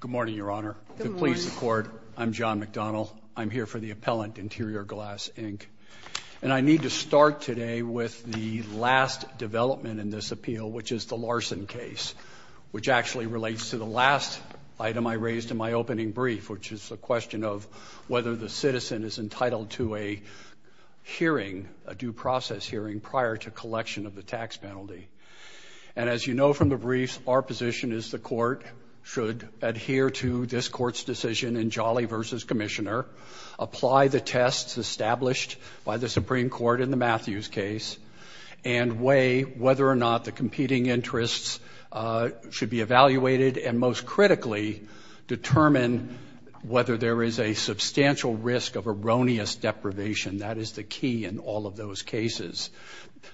Good morning, Your Honor. Good morning. To please the Court, I'm John McDonald. I'm here for the appellant, Interior Glass, Inc. And I need to start today with the last development in this appeal, which is the Larson case, which actually relates to the last item I raised in my opening brief, which is the question of whether the citizen is entitled to a hearing, a due process hearing, prior to collection of the tax penalty. And as you know from the briefs, our position is the Court should adhere to this Court's decision in Jolly v. Commissioner, apply the tests established by the Supreme Court in the Matthews case, and weigh whether or not the competing interests should be evaluated, and most critically, determine whether there is a substantial risk of erroneous deprivation. That is the key in all of those cases.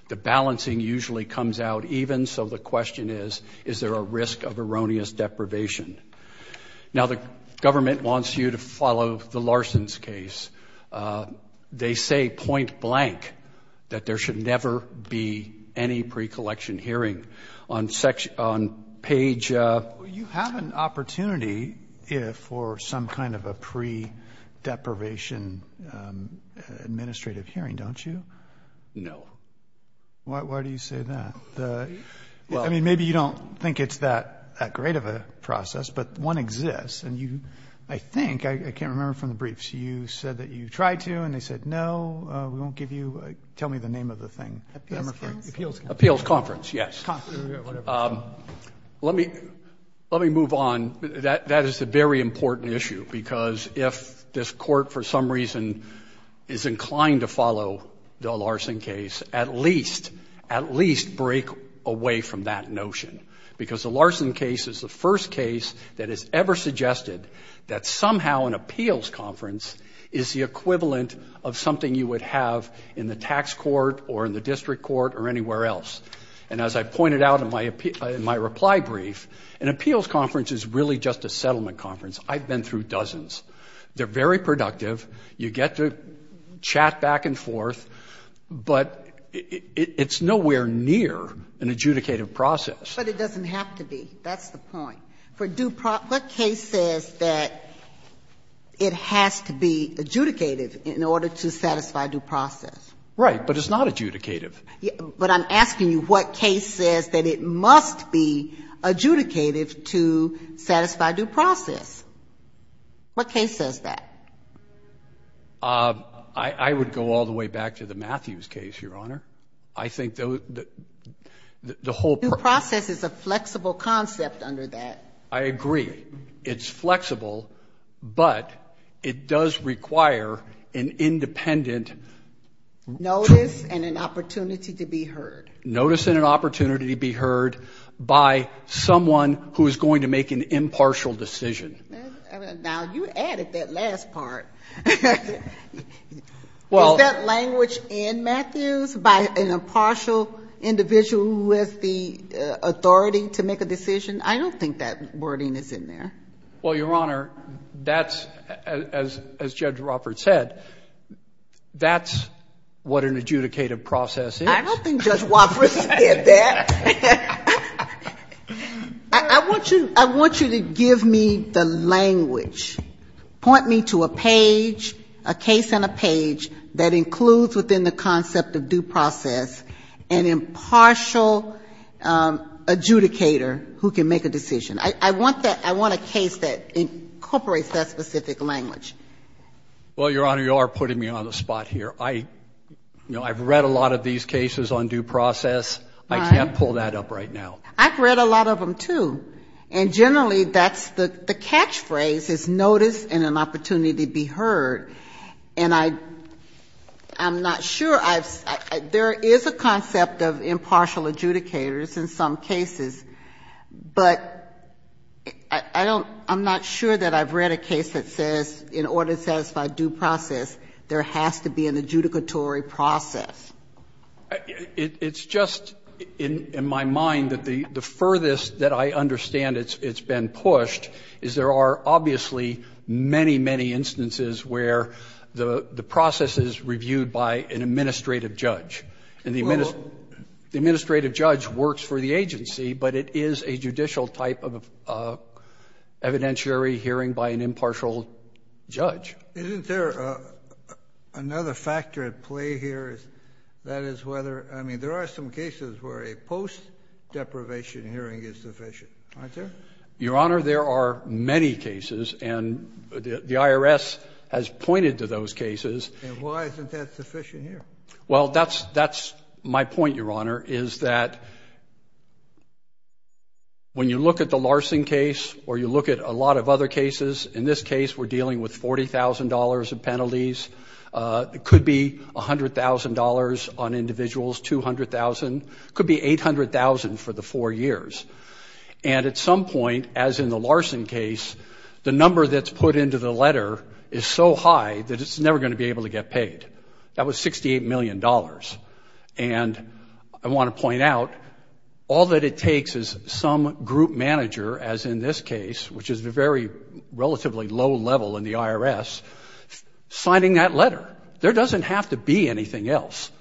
The balancing usually comes out even, so the question is, is there a risk of erroneous deprivation? Now, the government wants you to follow the Larson's case. They say point blank that there should never be any pre-collection hearing. On page... You have an opportunity for some kind of a pre-deprivation administrative hearing, don't you? No. Why do you say that? I mean, maybe you don't think it's that great of a process, but one exists. And you, I think, I can't remember from the briefs, you said that you tried to and they said no, we won't give you, tell me the name of the thing. Appeals conference. Appeals conference, yes. Let me move on. That is a very important issue, because if this court, for some reason, is inclined to follow the Larson case, at least break away from that notion, because the Larson case is the first case that has ever suggested that somehow an appeals conference is the equivalent of something you would have in the tax court or in the district court or anywhere else. And as I pointed out in my reply brief, an appeals conference is really just a settlement conference. I've been through dozens. They're very productive. You get to chat back and forth, but it's nowhere near an adjudicative process. But it doesn't have to be. That's the point. For due process, what case says that it has to be adjudicative in order to satisfy due process? But it's not adjudicative. But I'm asking you what case says that it must be adjudicative to satisfy due process. What case says that? I would go all the way back to the Matthews case, Your Honor. I think the whole process is a flexible concept under that. I agree. It's flexible, but it does require an independent notice and an opportunity to be heard. Notice and an opportunity to be heard by someone who is going to make an impartial decision. Now, you added that last part. Is that language in Matthews? By an impartial individual who has the authority to make a decision? I don't think that wording is in there. Well, Your Honor, that's, as Judge Roffert said, that's what an adjudicative process is. I don't think Judge Roffert said that. I want you to give me the language. Point me to a page, a case on a page that includes within the concept of due process an impartial adjudicator who can make a decision. I want a case that incorporates that specific language. Well, Your Honor, you are putting me on the spot here. I've read a lot of these cases on due process. I can't pull that up right now. I've read a lot of them, too. And generally that's the catchphrase is notice and an opportunity to be heard. And I'm not sure. There is a concept of impartial adjudicators in some cases, but I'm not sure that I've read a case that says in order to satisfy due process, there has to be an adjudicatory process. It's just in my mind that the furthest that I understand it's been pushed is there are obviously many, many instances where the process is reviewed by an administrative judge. And the administrative judge works for the agency, but it is a judicial type of evidentiary hearing by an impartial judge. Isn't there another factor at play here? That is whether, I mean, there are some cases where a post-deprivation hearing is sufficient, aren't there? Your Honor, there are many cases, and the IRS has pointed to those cases. And why isn't that sufficient here? Well, that's my point, Your Honor, is that when you look at the Larson case or you look at a lot of other cases, in this case, we're dealing with $40,000 in penalties. It could be $100,000 on individuals, $200,000. It could be $800,000 for the four years. And at some point, as in the Larson case, the number that's put into the letter is so high that it's never going to be able to get paid. That was $68 million. And I want to point out, all that it takes is some group manager, as in this case, which is a very relatively low level in the IRS, signing that letter. There doesn't have to be anything else.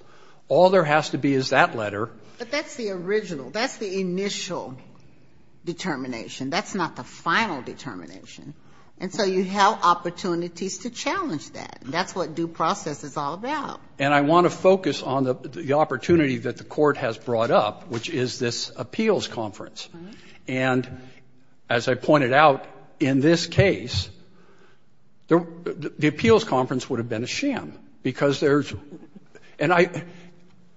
All there has to be is that letter. But that's the original. That's the initial determination. That's not the final determination. And so you have opportunities to challenge that. That's what due process is all about. And I want to focus on the opportunity that the Court has brought up, which is this appeals conference. And as I pointed out, in this case, the appeals conference would have been a sham because there's –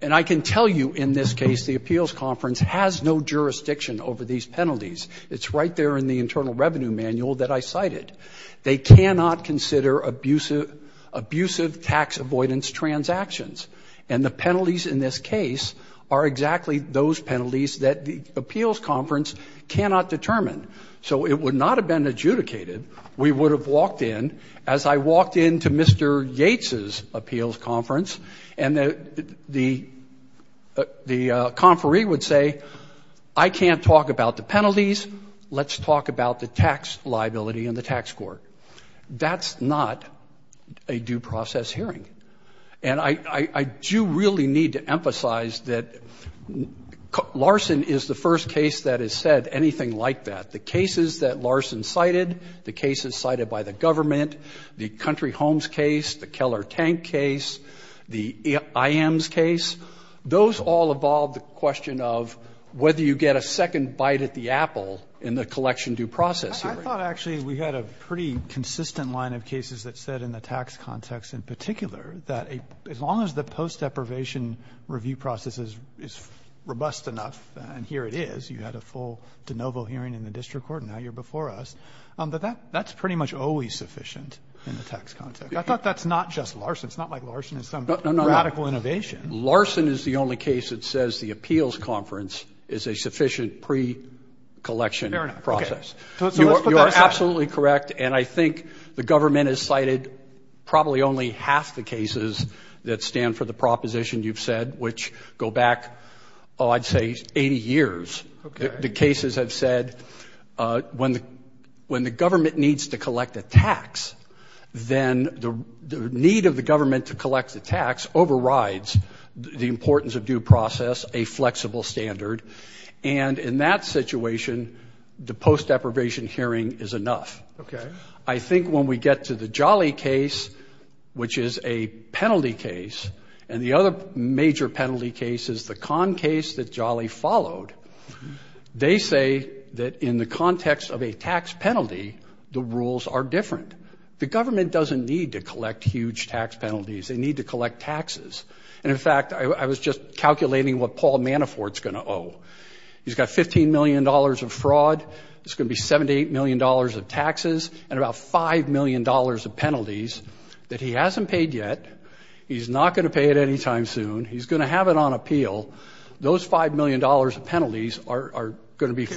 and I can tell you, in this case, the appeals conference has no jurisdiction over these penalties. It's right there in the Internal Revenue Manual that I cited. They cannot consider abusive tax avoidance transactions. And the penalties in this case are exactly those penalties that the appeals conference cannot determine. So it would not have been adjudicated. We would have walked in, as I walked into Mr. Yates' appeals conference, and the conferee would say, I can't talk about the penalties. Let's talk about the tax liability in the tax court. That's not a due process hearing. And I do really need to emphasize that Larson is the first case that has said anything like that. The cases that Larson cited, the cases cited by the government, the Country Homes case, the Keller Tank case, the IM's case, those all evolved the question of whether you get a second bite at the apple in the collection due process hearing. I thought actually we had a pretty consistent line of cases that said in the tax context in particular that as long as the post-deprivation review process is robust enough, and here it is, you had a full de novo hearing in the district court and now you're before us, that that's pretty much always sufficient in the tax context. I thought that's not just Larson. It's not like Larson is some radical innovation. Larson is the only case that says the appeals conference is a sufficient pre-collection process. You are absolutely correct, and I think the government has cited probably only half the cases that stand for the proposition you've said, which go back, oh, I'd say 80 years. The cases have said when the government needs to collect a tax, then the need of the government to collect the tax overrides the importance of due process, a flexible standard, and in that situation, the post-deprivation hearing is enough. I think when we get to the Jolly case, which is a penalty case, and the other major penalty case is the Conn case that Jolly followed, they say that in the context of a tax penalty, the rules are different. The government doesn't need to collect huge tax penalties. They need to collect taxes, and, in fact, I was just calculating what Paul Manafort's going to owe. He's got $15 million of fraud. It's going to be $7 million to $8 million of taxes and about $5 million of penalties that he hasn't paid yet. He's not going to pay it anytime soon. He's going to have it on appeal. Those $5 million of penalties are going to be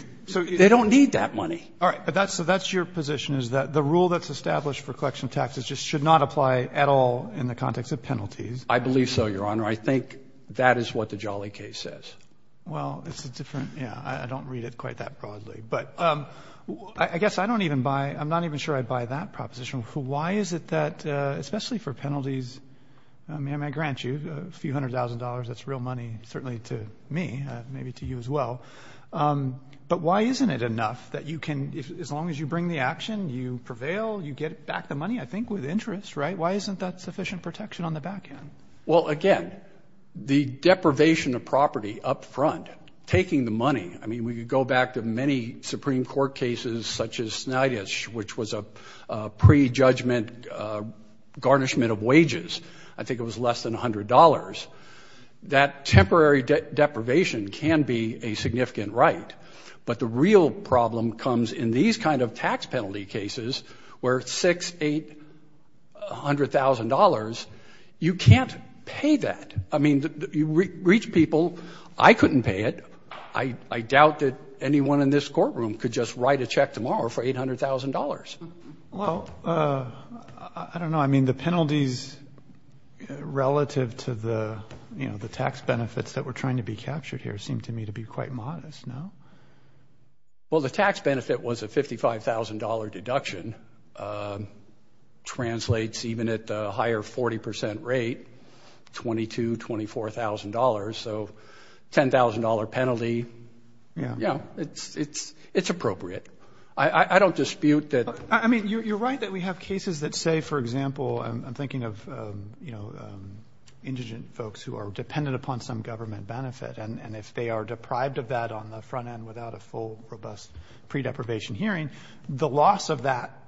they don't need that money. All right, so that's your position is that the rule that's established for collection of taxes just should not apply at all in the context of penalties. I believe so, Your Honor. I think that is what the Jolly case says. Well, it's a different, yeah, I don't read it quite that broadly. But I guess I don't even buy, I'm not even sure I'd buy that proposition. Why is it that, especially for penalties, I mean, I grant you a few hundred thousand dollars. That's real money, certainly to me, maybe to you as well. But why isn't it enough that you can, as long as you bring the action, you prevail, you get back the money, I think, with interest, right? Why isn't that sufficient protection on the back end? Well, again, the deprivation of property up front, taking the money, I mean, when you go back to many Supreme Court cases such as Snydich, which was a prejudgment garnishment of wages, I think it was less than $100, that temporary deprivation can be a significant right. But the real problem comes in these kind of tax penalty cases where $600,000, $800,000, you can't pay that. I mean, you reach people, I couldn't pay it. I doubt that anyone in this courtroom could just write a check tomorrow for $800,000. Well, I don't know. I mean, the penalties relative to the tax benefits that were trying to be captured here seem to me to be quite modest, no? Well, the tax benefit was a $55,000 deduction, translates even at a higher 40% rate, $22,000, $24,000. So $10,000 penalty, yeah, it's appropriate. I don't dispute that. I mean, you're right that we have cases that say, for example, I'm thinking of indigent folks who are dependent upon some government benefit, and if they are deprived of that on the front end without a full, robust pre-deprivation hearing, the loss of that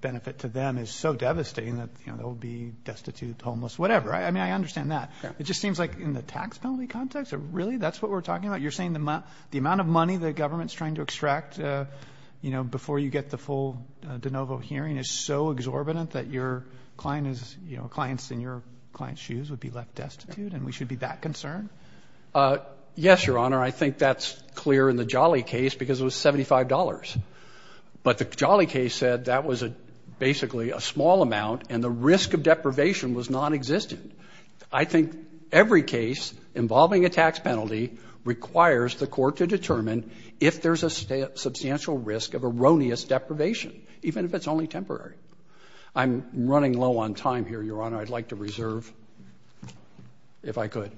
benefit to them is so devastating that they'll be destitute, homeless, whatever. I mean, I understand that. It just seems like in the tax penalty context, really that's what we're talking about? You're saying the amount of money the government is trying to extract, you know, before you get the full de novo hearing is so exorbitant that your clients in your client's shoes would be left destitute, and we should be that concerned? Yes, Your Honor. I think that's clear in the Jolly case because it was $75. But the Jolly case said that was basically a small amount, and the risk of deprivation was nonexistent. I think every case involving a tax penalty requires the court to determine if there's a substantial risk of erroneous deprivation, even if it's only temporary. I'm running low on time here, Your Honor. I'd like to reserve if I could.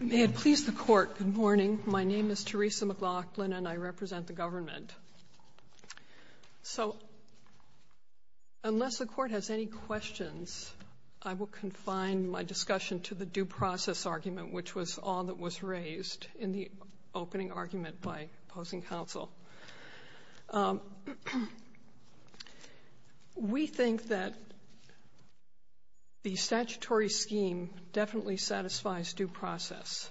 May it please the Court, good morning. My name is Teresa McLaughlin, and I represent the government. So unless the Court has any questions, I will confine my discussion to the due process argument, which was all that was required. in the opening argument by opposing counsel. We think that the statutory scheme definitely satisfies due process.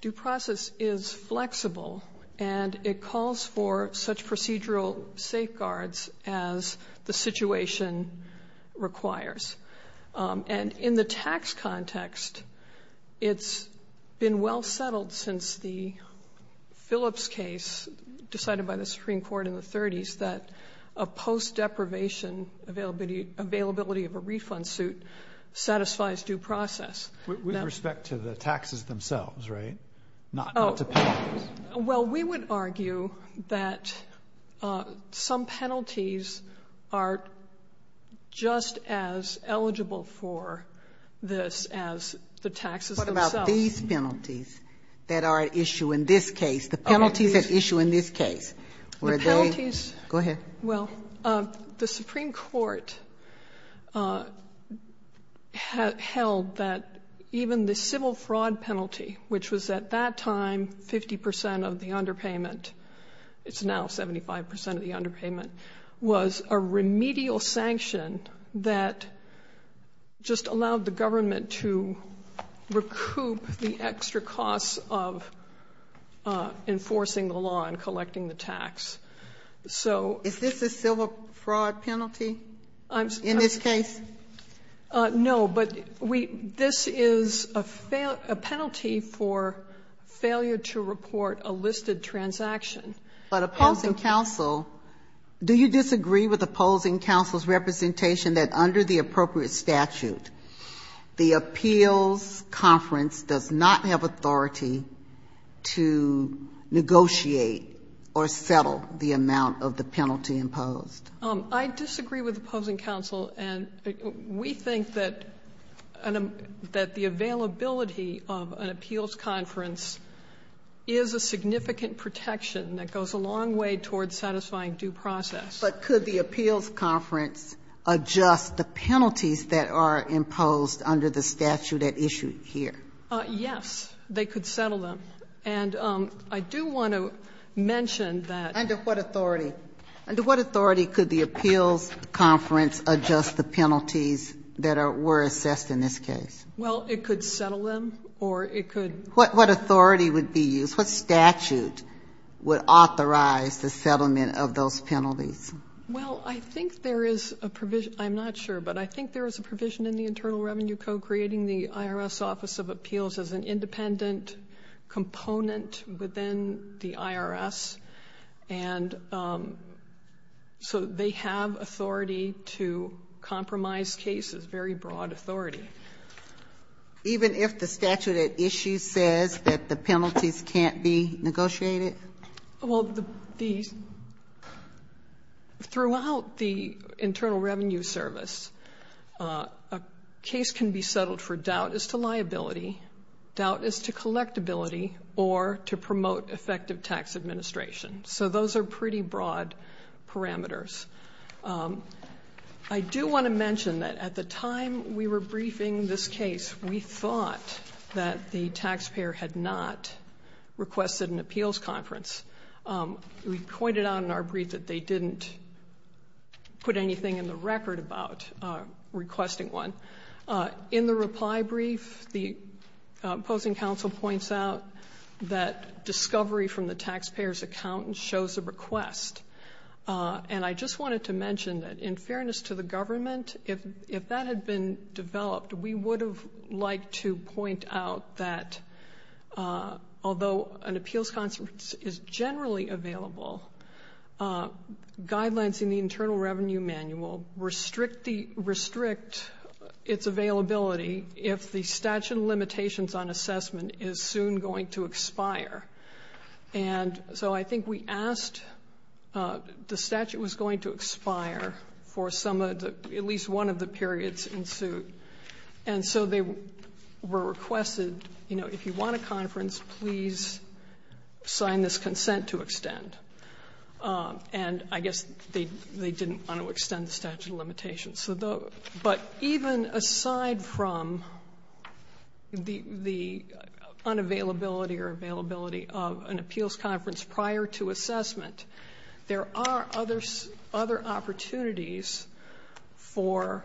Due process is flexible, and it calls for such procedural safeguards as the situation requires. And in the tax context, it's been well settled since the Phillips case decided by the Supreme Court in the 30s that a post-deprivation availability of a refund suit satisfies due process. With respect to the taxes themselves, right? Not to penalties. Well, we would argue that some penalties are just as eligible for this as the taxes themselves. What about these penalties that are at issue in this case? The penalties at issue in this case? The penalties? Go ahead. Well, the Supreme Court held that even the civil fraud penalty, which was at that time 50% of the underpayment, it's now 75% of the underpayment, was a remedial sanction that just allowed the government to recoup the extra costs of enforcing the law and collecting the tax. Is this a civil fraud penalty in this case? No, but this is a penalty for failure to report a listed transaction. But opposing counsel, do you disagree with opposing counsel's representation that under the appropriate statute, the appeals conference does not have authority to negotiate or settle the amount of the penalty imposed? I disagree with opposing counsel, and we think that the availability of an appeals conference is a significant protection that goes a long way toward satisfying due process. But could the appeals conference adjust the penalties that are imposed under the statute at issue here? Yes. They could settle them. And I do want to mention that. Under what authority? Under what authority could the appeals conference adjust the penalties that were assessed in this case? Well, it could settle them or it could. What authority would be used? What statute would authorize the settlement of those penalties? Well, I think there is a provision, I'm not sure, but I think there is a provision in the Internal Revenue Code creating the IRS Office of Appeals as an independent component within the IRS. And so they have authority to compromise cases, very broad authority. Even if the statute at issue says that the penalties can't be negotiated? Well, throughout the Internal Revenue Service, a case can be settled for doubt as to liability, doubt as to collectability, or to promote effective tax administration. So those are pretty broad parameters. I do want to mention that at the time we were briefing this case, we thought that the taxpayer had not requested an appeals conference. We pointed out in our brief that they didn't put anything in the record about requesting one. In the reply brief, the opposing counsel points out that discovery from the taxpayer's accountant shows a request. And I just wanted to mention that in fairness to the government, if that had been developed, we would have liked to point out that although an appeals conference is generally available, guidelines in the Internal Revenue Manual restrict its availability if the statute of limitations on assessment is soon going to expire. And so I think we asked, the statute was going to expire for at least one of the periods in suit. And so they were requested, if you want a conference, please sign this consent to extend. And I guess they didn't want to extend the statute of limitations. But even aside from the unavailability or availability of an appeals conference prior to assessment, there are other opportunities for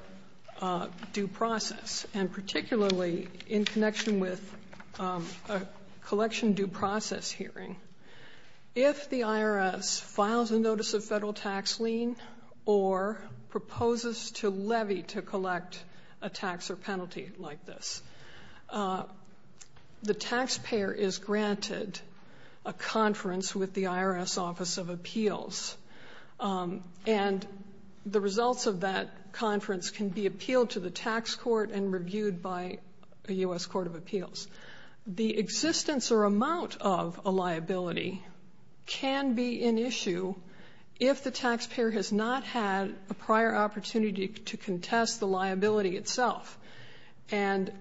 due process. And particularly in connection with a collection due process hearing, if the IRS files a notice of federal tax lien or proposes to levy to collect a tax or penalty like this, the taxpayer is granted a conference with the IRS Office of Appeals. And the results of that conference can be appealed to the tax court and reviewed by the U.S. Court of Appeals. The existence or amount of a liability can be an issue if the taxpayer has not had a prior opportunity to contest the liability itself. And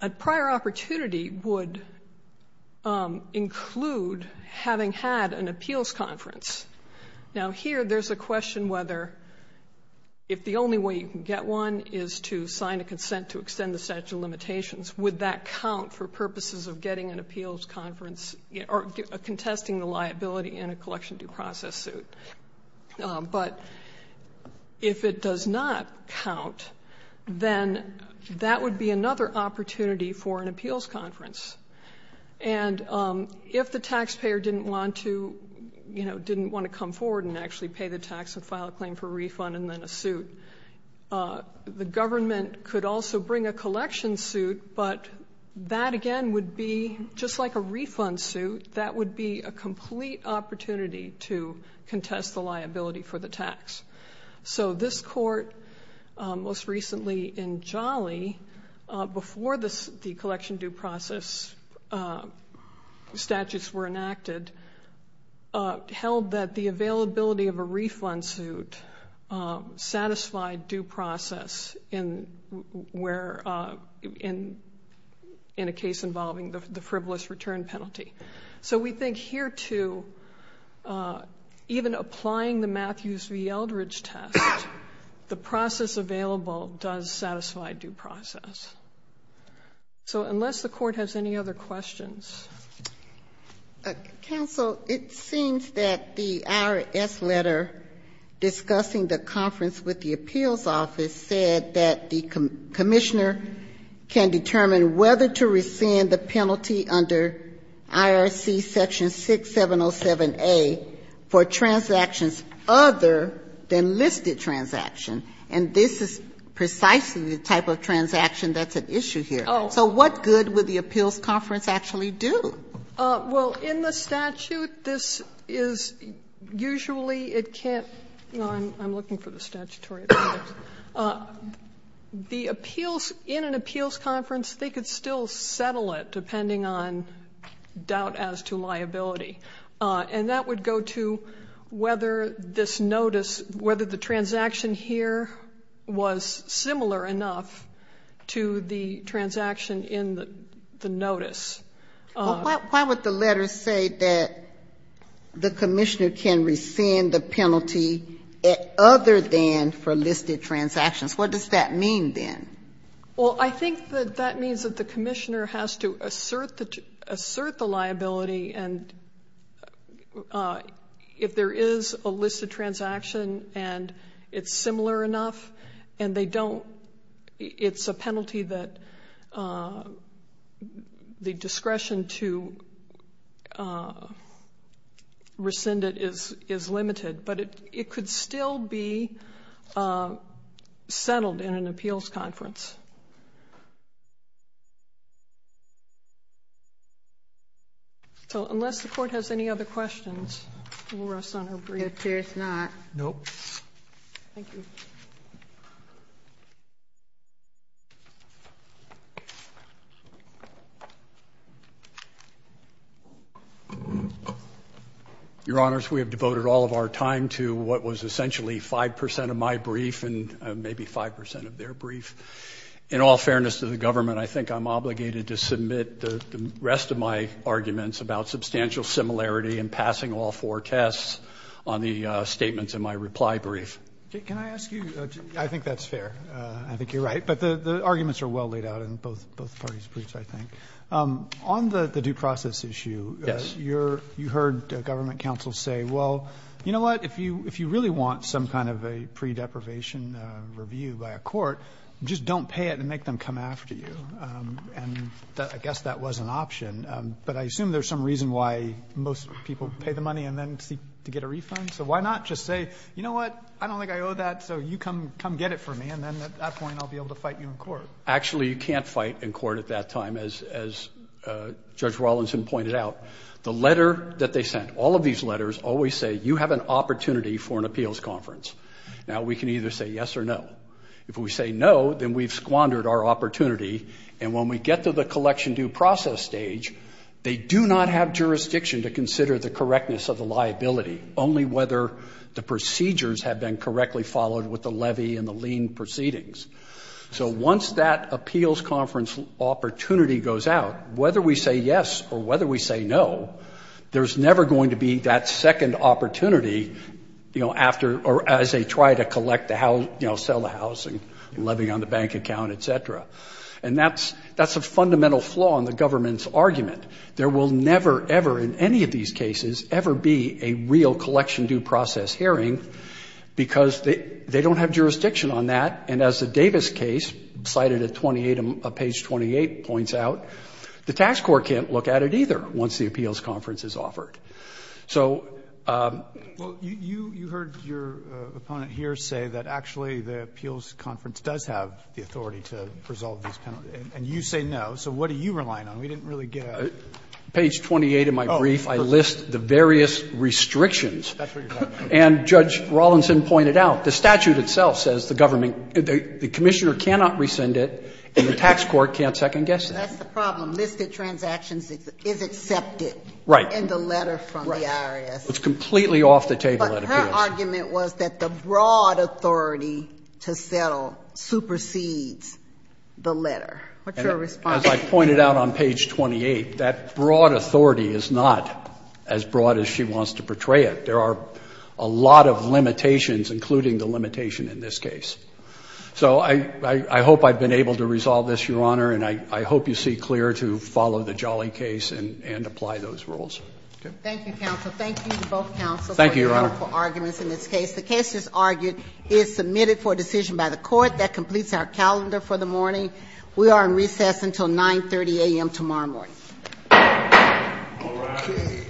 a prior opportunity would include having had an appeals conference. Now, here there's a question whether if the only way you can get one is to sign a consent to extend the statute of limitations, would that count for purposes of getting an appeals conference or contesting the liability in a collection due process suit? But if it does not count, then that would be another opportunity for an appeals conference. And if the taxpayer didn't want to, you know, didn't want to come forward and actually pay the tax and file a claim for a refund and then a suit, the government could also bring a collection suit, but that again would be just like a refund suit. That would be a complete opportunity to contest the liability for the tax. So this court most recently in Jolly, before the collection due process statutes were enacted, held that the availability of a refund suit satisfied due process in a case involving the frivolous return penalty. So we think here, too, even applying the Matthews v. Eldridge test, the process available does satisfy due process. So unless the court has any other questions. Counsel, it seems that the IRS letter discussing the conference with the appeals office said that the commissioner can determine whether to rescind the penalty under IRC Section 6707A for transactions other than listed transaction. And this is precisely the type of transaction that's at issue here. So what good would the appeals conference actually do? Well, in the statute, this is usually it can't go on. I'm looking for the statutory. The appeals in an appeals conference, they could still settle it depending on doubt as to liability. And that would go to whether this notice, whether the transaction here was similar enough to the transaction in the notice. Why would the letter say that the commissioner can rescind the penalty other than for listed transactions? What does that mean then? Well, I think that that means that the commissioner has to assert the liability. And if there is a listed transaction and it's similar enough and they don't, it's a penalty that the discretion to rescind it is limited. But it could still be settled in an appeals conference. So unless the court has any other questions, we'll rest on our breath. It appears not. Nope. Thank you. Your Honors, we have devoted all of our time to what was essentially 5% of my brief and maybe 5% of their brief. In all fairness to the government, I think I'm obligated to submit the rest of my arguments about substantial similarity and passing all four tests on the statements in my reply brief. Can I ask you? I think that's fair. I think you're right. But the arguments are well laid out in both parties' briefs, I think. On the due process issue, you heard government counsel say, well, you know what? If you really want some kind of a pre-deprivation review by a court, just don't pay it and make them come after you. And I guess that was an option. But I assume there's some reason why most people pay the money and then seek to get a refund. So why not just say, you know what? I don't think I owe that, so you come get it from me, and then at that point I'll be able to fight you in court. Actually, you can't fight in court at that time, as Judge Rawlinson pointed out. The letter that they sent, all of these letters always say you have an opportunity for an appeals conference. Now, we can either say yes or no. If we say no, then we've squandered our opportunity. And when we get to the collection due process stage, they do not have jurisdiction to consider the correctness of the liability, only whether the procedures have been correctly followed with the levy and the lien proceedings. So once that appeals conference opportunity goes out, whether we say yes or whether we say no, there's never going to be that second opportunity, you know, after or as they try to collect the house, you know, sell the house and levy on the bank account, et cetera. And that's a fundamental flaw in the government's argument. There will never, ever in any of these cases, ever be a real collection due process hearing because they don't have jurisdiction on that. And as the Davis case, cited at page 28, points out, the tax court can't look at it either once the appeals conference is offered. So you heard your opponent here say that actually the appeals conference does have the authority to resolve these penalties. And you say no. So what are you relying on? We didn't really get a. Page 28 of my brief, I list the various restrictions. That's what you're talking about. And Judge Rawlinson pointed out, the statute itself says the government, the commissioner cannot rescind it, and the tax court can't second-guess that. That's the problem. Listed transactions is accepted. Right. In the letter from the IRS. Right. It's completely off the table at appeals. Her argument was that the broad authority to settle supersedes the letter. What's your response? As I pointed out on page 28, that broad authority is not as broad as she wants to portray it. There are a lot of limitations, including the limitation in this case. So I hope I've been able to resolve this, Your Honor, and I hope you see clear to follow the Jolly case and apply those rules. Thank you to both counsels. Thank you, Your Honor. I don't have time for arguments in this case. The case, as argued, is submitted for decision by the court. That completes our calendar for the morning. We are in recess until 9.30 a.m. tomorrow morning. All right. Okay.